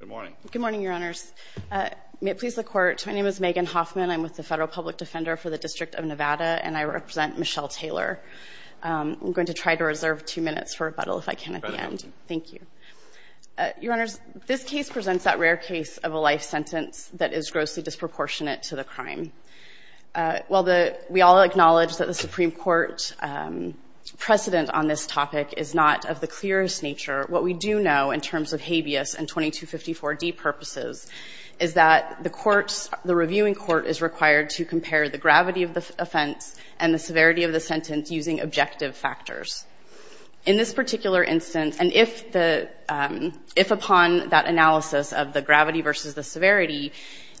Good morning. Good morning, Your Honors. May it please the Court, my name is Megan Hoffman. I'm with the Federal Public Defender for the District of Nevada and I represent Michelle Taylor. I'm going to try to reserve two minutes for rebuttal if I can at the end. Thank you. Your Honors, this case presents that rare case of a life sentence that is grossly disproportionate to the crime. While the, we all acknowledge that the Supreme Court precedent on this topic is not of the clearest nature, what we do know in terms of habeas and 2254D purposes is that the courts, the reviewing court is required to compare the gravity of the offense and the severity of the sentence using objective factors. In this particular instance, and if the, if upon that analysis of the gravity versus the severity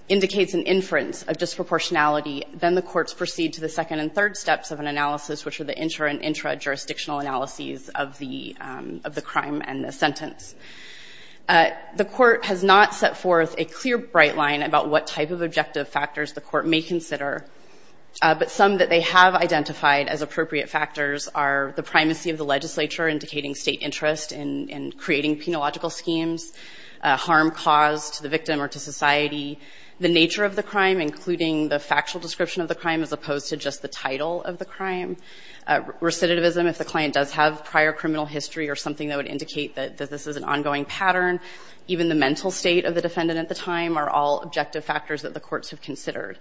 indicates an inference of disproportionality, then the courts proceed to the second and third steps of an analysis, which are the intra and intra-jurisdictional analyses of the, of the crime and the sentence. The court has not set forth a clear bright line about what type of objective factors the court may consider, but some that they have identified as appropriate factors are the primacy of the legislature indicating state interest in creating penological schemes, harm caused to the victim or to society, the nature of the crime, including the factual description of the crime as opposed to just the title of the crime. Recidivism, if the client does have prior criminal history or something that would indicate that this is an ongoing pattern, even the mental state of the defendant at the time are all objective factors that the courts have considered.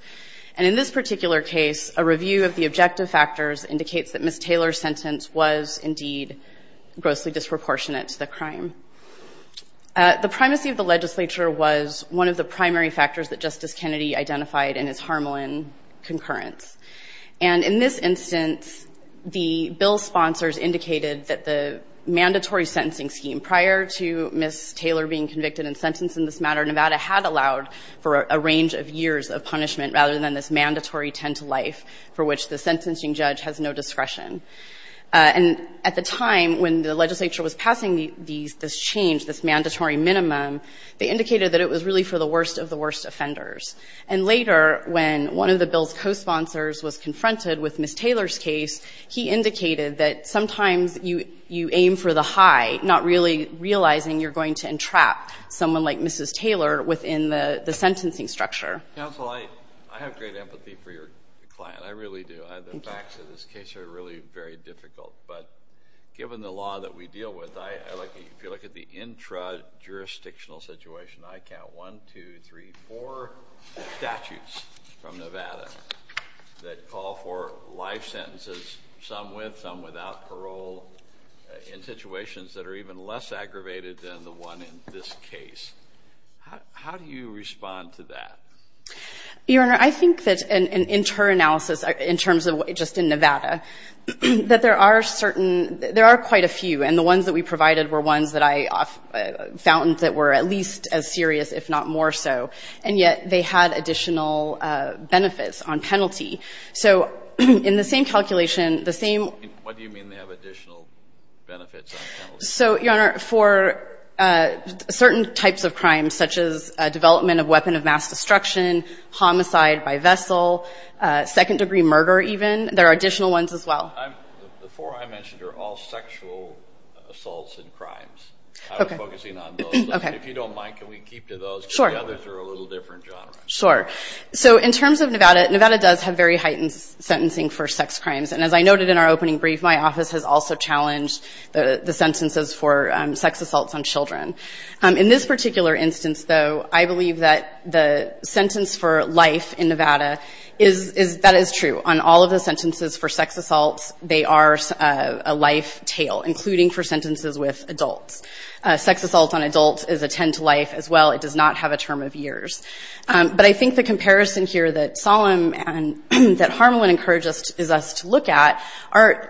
And in this particular case, a review of the objective factors indicates that Ms. Taylor's sentence was indeed grossly disproportionate to the crime. The primacy of the legislature was one of the primary factors that Justice Kennedy identified in his Harmelin concurrence. And in this instance, the bill's sponsors indicated that the mandatory sentencing scheme prior to Ms. Taylor being convicted and sentenced in this matter, Nevada had allowed for a range of years of punishment rather than this mandatory tend to life for which the sentencing judge has no discretion. And at the time when the legislature was passing these, this change, this mandatory minimum, they indicated that it was really for the worst of the worst offenders. And later when one of the bill's co-sponsors was confronted with Ms. Taylor's case, he indicated that sometimes you aim for the high, not really realizing you're going to entrap someone like Mrs. Taylor within the sentencing structure. Counsel, I have great empathy for your client. I really do. The facts of this case are really very difficult. But given the law that we deal with, if you look at the intra-jurisdictional situation, I count one, two, three, four statutes from Nevada that call for life sentences, some with, some without parole, in situations that are even less aggravated than the one in this case. How do you respond to that? Your Honor, I think that an inter-analysis in terms of just in Nevada, that there are certain, there are quite a few. And the ones that we provided were ones that I found that were at least as serious, if not more so. And yet they had additional benefits on penalty. So in the same calculation, the same What do you mean they have additional benefits on penalty? So, Your Honor, for certain types of crimes, such as development of weapon of mass destruction, homicide by vessel, second-degree murder even, there are additional ones as well. The four I mentioned are all sexual assaults and crimes. I was focusing on those. If you don't mind, can we keep to those? Sure. Because the others are a little different genre. Sure. So in terms of Nevada, Nevada does have very heightened sentencing for sex crimes. And as I noted in our opening brief, my office has also challenged the sentences for sex assaults on children. In this particular instance, though, I believe that the sentence for life in Nevada is, that is true. On all of the sentences for sex assaults, they are a life tail, including for sentences with adults. Sex assault on adults is a 10 to life as well. It does not have a term of years. But I think the comparison here that Solomon and that Harmelin encouraged us to look at,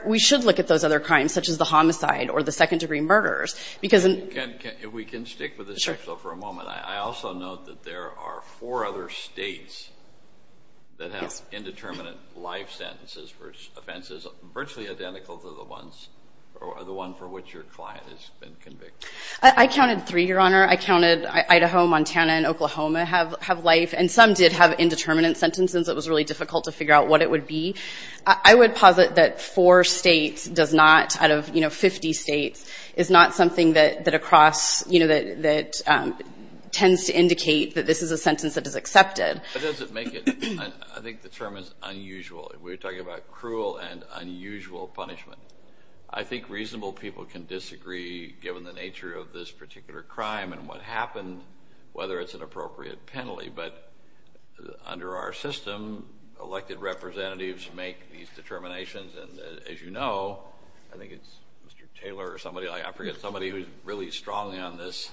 we should look at those other crimes, such as the homicide or the second-degree murders. We can stick with the sexual for a moment. I also note that there are four other states that have indeterminate life sentences for offenses virtually identical to the ones for which your client has been convicted. I counted three, Your Honor. I counted Idaho, Montana, and Oklahoma have life. And some did have indeterminate sentences. It was really difficult to figure out what it would be. I would posit that four states does not, out of, you know, 50 states, is not something that across, you know, that tends to indicate that this is a sentence that is accepted. But does it make it? I think the term is unusual. We're talking about cruel and unusual punishment. I think reasonable people can disagree given the nature of this particular crime and what happened, whether it's an appropriate penalty. But under our system, elected representatives make these determinations. And as you know, I think it's Mr. Taylor or somebody, I forget, somebody who's really strongly on this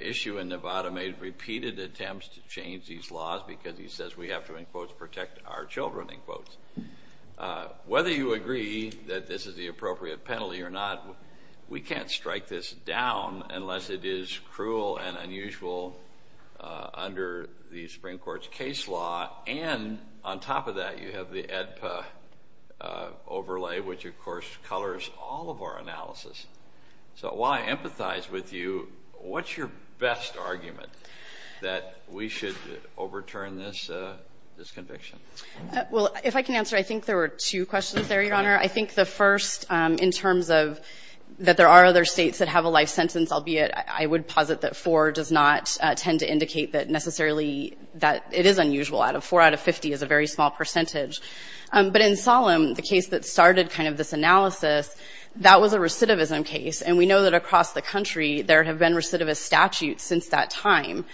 issue in Nevada made repeated attempts to change these laws because he says we have to, in quotes, protect our children, in quotes. Whether you agree that this is the appropriate penalty or not, we can't strike this down unless it is cruel and unusual under the Supreme Court's case law. And on top of that, you have the AEDPA overlay, which, of course, colors all of our analysis. So while I empathize with you, what's your best argument that we should overturn this conviction? Well, if I can answer, I think there were two questions there, Your Honor. I think the first, in terms of that there are other states that have a life sentence, albeit I would posit that four does not tend to indicate that necessarily that it is unusual. Four out of 50 is a very small percentage. But in Solemn, the case that started kind of this analysis, that was a recidivism case. And we know that across the country there have been recidivist statutes since that time.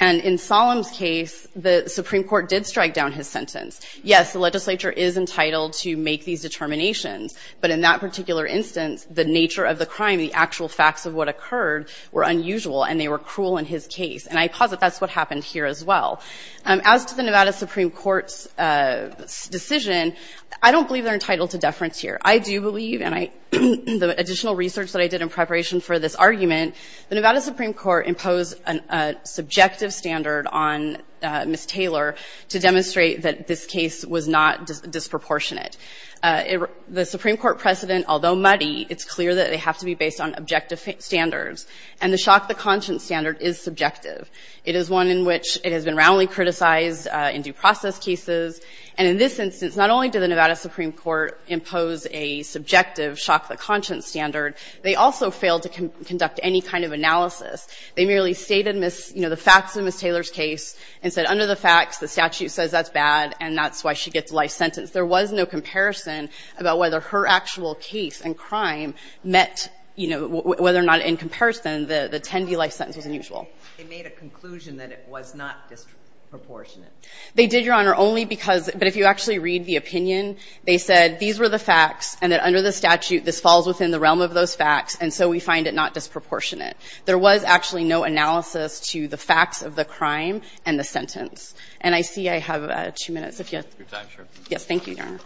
And in Solemn's case, the Supreme Court did strike down his sentence. Yes, the legislature is entitled to make these determinations. But in that particular instance, the nature of the crime, the actual facts of what occurred were unusual and they were cruel in his case. And I posit that's what happened here as well. As to the Nevada Supreme Court's decision, I don't believe they're entitled to deference here. I do believe, and the additional research that I did in preparation for this argument, the Nevada Supreme Court imposed a subjective standard on Ms. Taylor to demonstrate that this case was not disproportionate. The Supreme Court precedent, although muddy, it's clear that they have to be based on objective standards. And the shock to conscience standard is subjective. It is one in which it has been roundly criticized in due process cases. And in this instance, not only did the Nevada Supreme Court impose a subjective shock to conscience standard, they also failed to conduct any kind of analysis. They merely stated, you know, the facts in Ms. Taylor's case and said under the facts, the statute says that's bad and that's why she gets a life sentence. There was no comparison about whether her actual case and crime met, you know, whether or not in comparison the 10-D life sentence was unusual. They made a conclusion that it was not disproportionate. They did, Your Honor, only because, but if you actually read the opinion, they said these were the facts and that under the statute this falls within the realm of those facts, and so we find it not disproportionate. There was actually no analysis to the facts of the crime and the sentence. And I see I have two minutes. If you have time, sure. Thank you, Your Honor.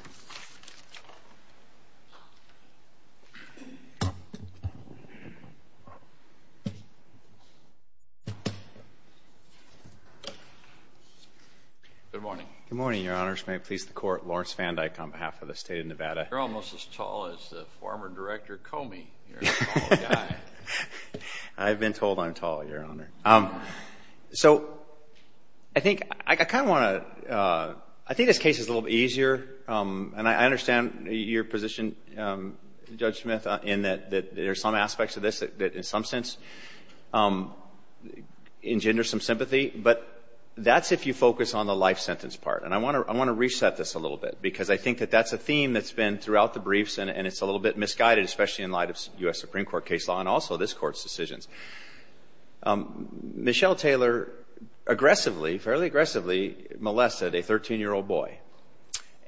Good morning. Good morning, Your Honors. May it please the Court. Lawrence Van Dyke on behalf of the State of Nevada. You're almost as tall as the former director Comey. You're a tall guy. I've been told I'm tall, Your Honor. So I think I kind of want to, I think this case is a little bit easier. And I understand your position, Judge Smith, in that there are some aspects of this that in some sense engender some sympathy, but that's if you focus on the life sentence part. And I want to reset this a little bit, because I think that that's a theme that's been throughout the briefs and it's a little bit misguided, especially in light of U.S. Supreme Court case law and also this Court's decisions. Michelle Taylor aggressively, fairly aggressively molested a 13-year-old boy.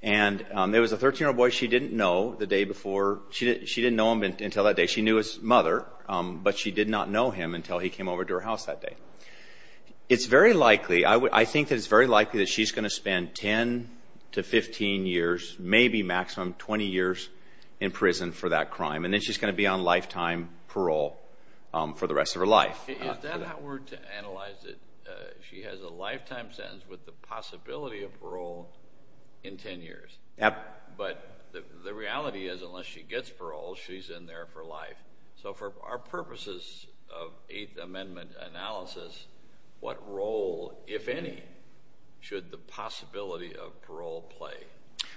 And it was a 13-year-old boy she didn't know the day before. She didn't know him until that day. She knew his mother, but she did not know him until he came over to her house that day. It's very likely, I think that it's very likely that she's going to spend 10 to 15 years, maybe maximum 20 years, in prison for that crime. And then she's going to be on lifetime parole for the rest of her life. Is that a word to analyze it? She has a lifetime sentence with the possibility of parole in 10 years. Yep. But the reality is unless she gets parole, she's in there for life. So for our purposes of Eighth Amendment analysis, what role, if any, should the possibility of parole play?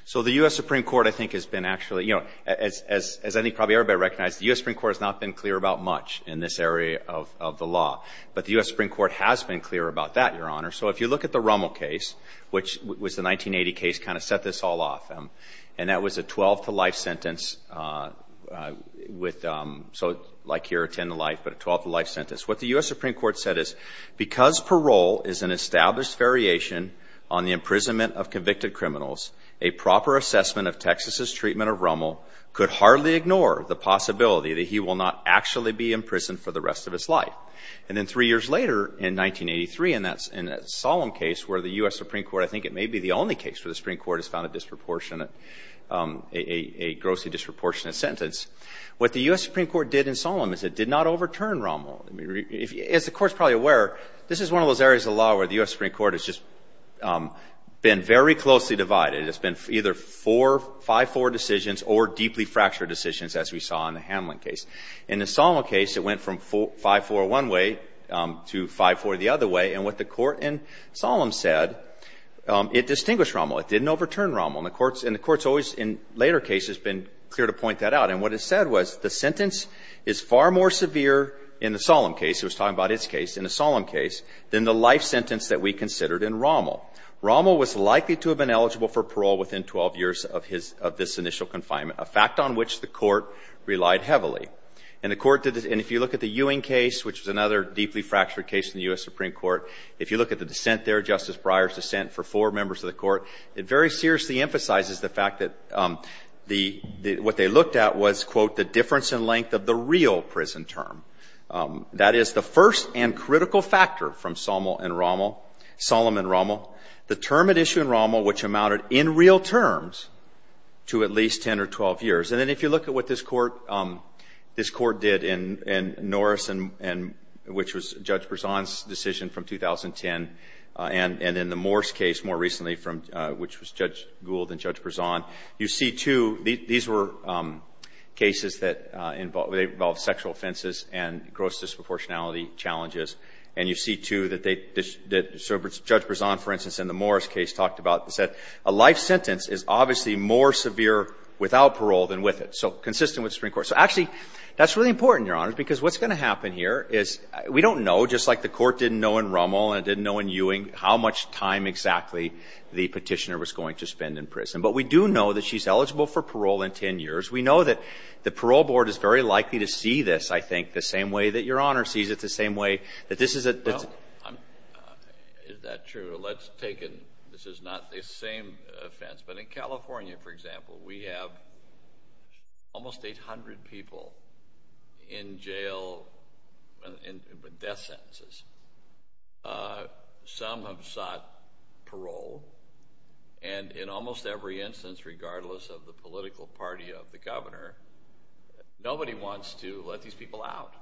So the U.S. Supreme Court, I think, has been actually, you know, as I think probably everybody recognizes, the U.S. Supreme Court has not been clear about much in this area of the law. But the U.S. Supreme Court has been clear about that, Your Honor. So if you look at the Rummel case, which was the 1980 case, kind of set this all off. And that was a 12-to-life sentence with, so like here, a 10-to-life, but a 12-to-life sentence. What the U.S. Supreme Court said is, because parole is an established variation on the imprisonment of convicted criminals, a proper assessment of Texas's treatment of Rummel could hardly ignore the possibility that he will not actually be in prison for the rest of his life. And then three years later, in 1983, in that Solemn case where the U.S. Supreme Court, I think it may be the only case where the Supreme Court has found a disproportionate, a grossly disproportionate sentence, what the U.S. Supreme Court did in Solemn is it did not overturn Rummel. As the Court is probably aware, this is one of those areas of the law where the U.S. Supreme Court has just been very closely divided. It's been either four 5-4 decisions or deeply fractured decisions, as we saw in the Hamlin case. In the Solemn case, it went from 5-4 one way to 5-4 the other way. And what the Court in Solemn said, it distinguished Rummel. It didn't overturn Rummel. And the Court's always, in later cases, been clear to point that out. And what it said was the sentence is far more severe in the Solemn case, it was talking about its case, in the Solemn case, than the life sentence that we considered in Rummel. Rummel was likely to have been eligible for parole within 12 years of his, of this initial confinement, a fact on which the Court relied heavily. And the Court did this. And if you look at the Ewing case, which is another deeply fractured case in the U.S. Supreme Court, if you look at the dissent there, Justice Breyer's dissent for four members of the Court, it very seriously emphasizes the fact that the, what they looked at was, quote, the difference in length of the real prison term. That is the first and critical factor from Solemn and Rummel, the term at issue in Rummel, which amounted in real terms to at least 10 or 12 years. And then if you look at what this Court, this Court did in Norris and, which was Judge Berzon's decision from 2010, and in the Morse case more recently from, which was Judge Gould and Judge Berzon, you see, too, these were cases that involved, they involved sexual offenses and gross disproportionality challenges. And you see, too, that they, Judge Berzon, for instance, in the Morse case talked about, said a life sentence is obviously more severe without parole than with it. So consistent with the Supreme Court. So actually, that's really important, Your Honors, because what's going to happen here is, we don't know, just like the Court didn't know in Rummel and it didn't know in Ewing how much time exactly the Petitioner was going to spend in prison. But we do know that she's eligible for parole in 10 years. We know that the Parole Board is very likely to see this, I think, the same way that Your Honor sees it, the same way that this is a... Is that true? Let's take it. This is not the same offense. But in California, for example, we have almost 800 people in jail with death sentences. Some have sought parole. And in almost every instance, regardless of the political party of the governor, nobody wants to let these people out.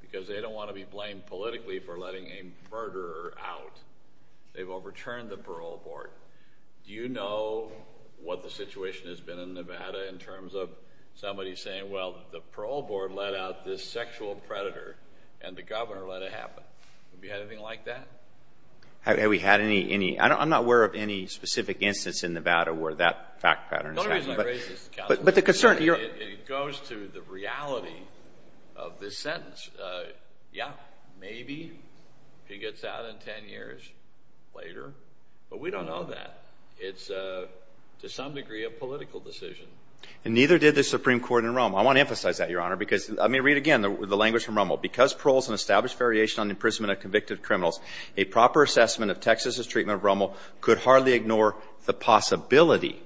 Because they don't want to be blamed politically for letting a murderer out. They've overturned the Parole Board. Do you know what the situation has been in Nevada in terms of somebody saying, well, the Parole Board let out this sexual predator, and the governor let it happen. Have you had anything like that? Have we had any? I'm not aware of any specific instance in Nevada where that fact pattern is happening. The only reason I raise this is because it goes to the reality of this sentence. Yeah, maybe he gets out in 10 years later. But we don't know that. It's to some degree a political decision. And neither did the Supreme Court in Rome. I want to emphasize that, Your Honor, because let me read again the language from Rome. Because parole is an established variation on the imprisonment of convicted criminals, a proper assessment of Texas's treatment of Rommel could hardly ignore the possibility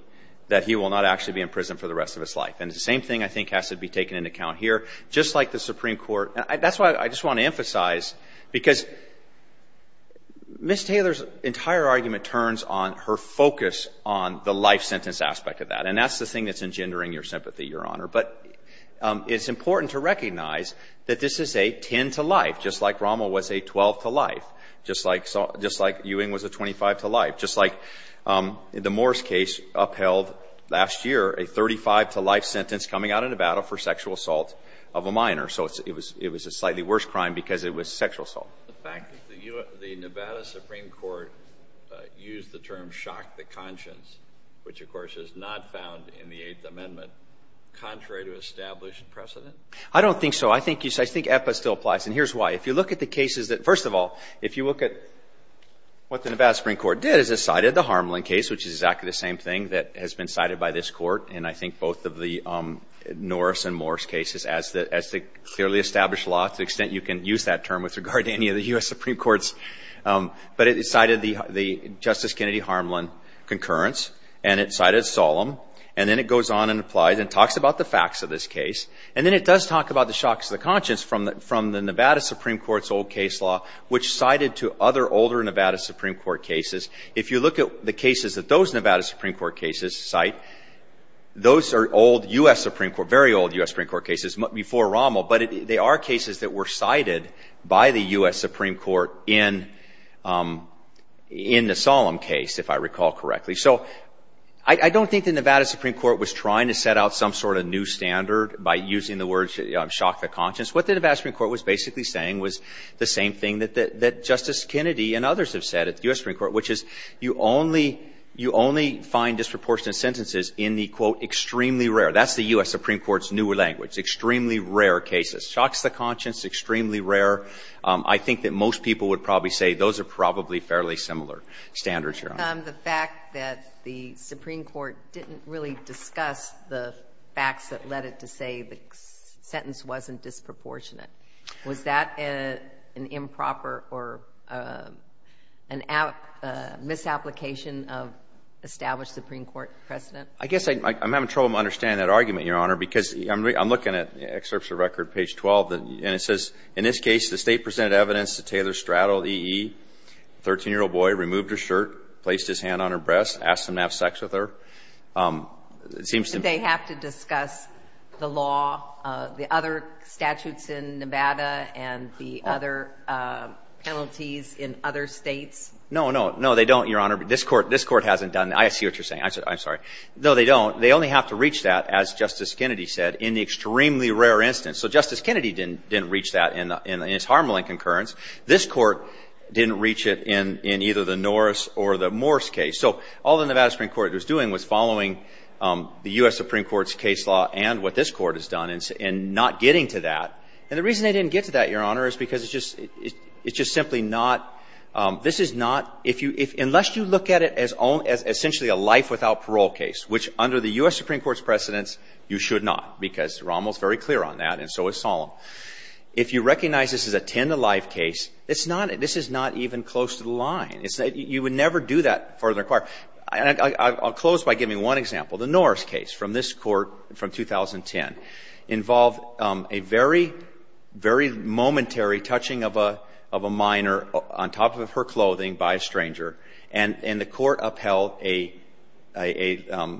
that he will not actually be in prison for the rest of his life. And the same thing, I think, has to be taken into account here, just like the Supreme Court. That's why I just want to emphasize, because Ms. Taylor's entire argument turns on her focus on the life sentence aspect of that. And that's the thing that's engendering your sympathy, Your Honor. But it's important to recognize that this is a 10-to-life, just like Rommel was a 12-to-life, just like Ewing was a 25-to-life, just like the Morris case upheld last year, a 35-to-life sentence coming out of Nevada for sexual assault of a minor. So it was a slightly worse crime because it was sexual assault. The fact that the Nevada Supreme Court used the term shock to conscience, which, of course, is not found in the Eighth Amendment, contrary to established precedent? I don't think so. I think you say – I think EPA still applies, and here's why. If you look at the cases that – first of all, if you look at what the Nevada Supreme Court did is it cited the Harmelin case, which is exactly the same thing that has been cited by this Court in, I think, both of the Norris and Morris cases as the clearly established law, to the extent you can use that term with regard to any of the U.S. Supreme Courts. But it cited the Justice Kennedy-Harmelin concurrence, and it cited Solem, and then it goes on and applies and talks about the facts of this case, and then it does talk about the shock to the conscience from the Nevada Supreme Court's old case law, which cited to other older Nevada Supreme Court cases. If you look at the cases that those Nevada Supreme Court cases cite, those are old U.S. Supreme Court – very old U.S. Supreme Court cases before Rommel, but they are cases that were cited by the U.S. Supreme Court in the Solem case, if I recall correctly. So I don't think the Nevada Supreme Court was trying to set out some sort of new standard by using the words shock to the conscience. What the Nevada Supreme Court was basically saying was the same thing that Justice Kennedy and others have said at the U.S. Supreme Court, which is you only find disproportionate sentences in the, quote, extremely rare – rare cases. Shock to the conscience, extremely rare. I think that most people would probably say those are probably fairly similar standards, Your Honor. The fact that the Supreme Court didn't really discuss the facts that led it to say the sentence wasn't disproportionate, was that an improper or an misapplication of established Supreme Court precedent? I guess I'm having trouble understanding that argument, Your Honor, because I'm looking at an excerpt from the record, page 12, and it says, In this case, the State presented evidence to Taylor Straddle, E.E., 13-year-old boy, removed her shirt, placed his hand on her breast, asked him to have sex with her. It seems to me – Do they have to discuss the law, the other statutes in Nevada and the other penalties in other States? No, no. No, they don't, Your Honor. This Court hasn't done that. I see what you're saying. I'm sorry. No, they don't. They only have to reach that, as Justice Kennedy said, in the extremely rare instance. So Justice Kennedy didn't reach that in its Harmelin concurrence. This Court didn't reach it in either the Norris or the Morse case. So all the Nevada Supreme Court was doing was following the U.S. Supreme Court's case law and what this Court has done in not getting to that. And the reason they didn't get to that, Your Honor, is because it's just simply not – this is not – unless you look at it as essentially a life without parole case, which under the U.S. Supreme Court's precedence, you should not, because Rommel's very clear on that and so is Solem. If you recognize this as a ten-to-life case, it's not – this is not even close to the line. It's – you would never do that further. I'll close by giving one example. The Norris case from this Court from 2010 involved a very, very momentary touching of a minor on top of her clothing by a stranger. And the Court upheld a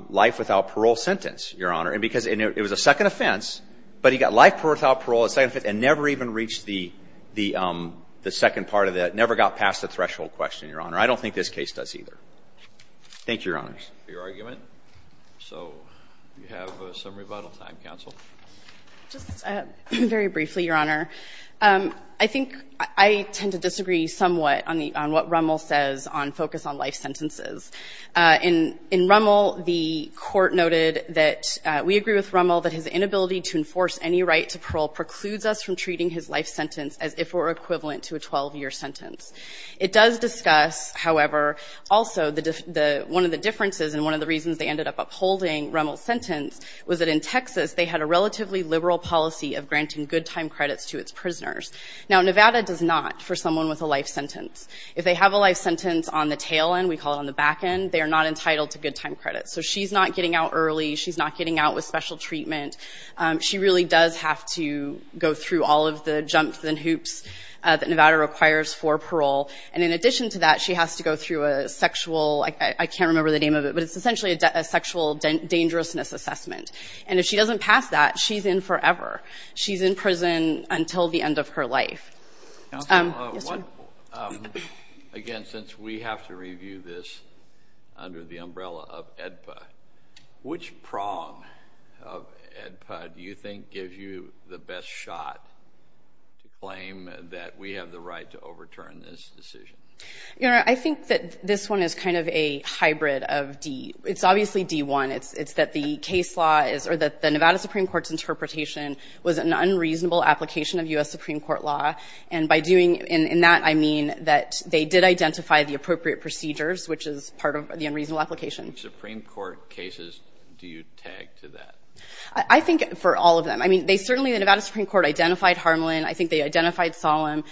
life without parole sentence, Your Honor, because it was a second offense, but he got life without parole, a second offense, and never even reached the second part of that, never got past the threshold question, Your Honor. I don't think this case does either. Thank you, Your Honors. Roberts. So we have some rebuttal time, counsel. Just very briefly, Your Honor. I think I tend to disagree somewhat on the – on what Rommel says on focus on life sentences. In Rommel, the Court noted that we agree with Rommel that his inability to enforce any right to parole precludes us from treating his life sentence as if it were equivalent to a 12-year sentence. It does discuss, however, also the – one of the differences and one of the reasons they ended up upholding Rommel's sentence was that in Texas, they had a relatively liberal policy of granting good time credits to its prisoners. Now, Nevada does not for someone with a life sentence. If they have a life sentence on the tail end, we call it on the back end, they are not entitled to good time credits. So she's not getting out early. She's not getting out with special treatment. She really does have to go through all of the jumps and hoops that Nevada requires for parole. And in addition to that, she has to go through a sexual – I can't remember the name of it, but it's essentially a sexual dangerousness assessment. And if she doesn't pass that, she's in forever. She's in prison until the end of her life. Counsel, what – again, since we have to review this under the umbrella of AEDPA, which prong of AEDPA do you think gives you the best shot to claim that we have the right to overturn this decision? You know, I think that this one is kind of a hybrid of D – it's obviously D-1. It's that the case law is – or that the Nevada Supreme Court's interpretation was an unreasonable application of U.S. Supreme Court law. And by doing – in that, I mean that they did identify the appropriate procedures, which is part of the unreasonable application. Supreme Court cases, do you tag to that? I think for all of them. I mean, they certainly – the Nevada Supreme Court identified Harmelin. I think they identified Solem.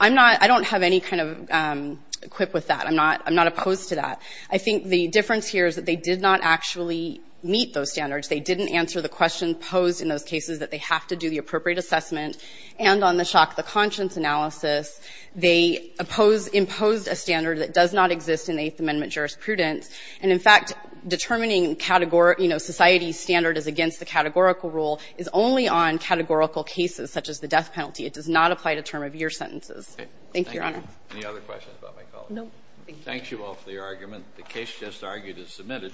I'm not – I don't have any kind of quip with that. I'm not opposed to that. I think the difference here is that they did not actually meet those standards. They didn't answer the question posed in those cases that they have to do the appropriate assessment. And on the shock of the conscience analysis, they oppose – imposed a standard that does not exist in Eighth Amendment jurisprudence. And in fact, determining category – you know, society's standard is against the categorical rule is only on categorical cases such as the death penalty. It does not apply to term-of-year sentences. Thank you, Your Honor. Any other questions about my colleague? No. Thank you all for your argument. The case just argued is submitted.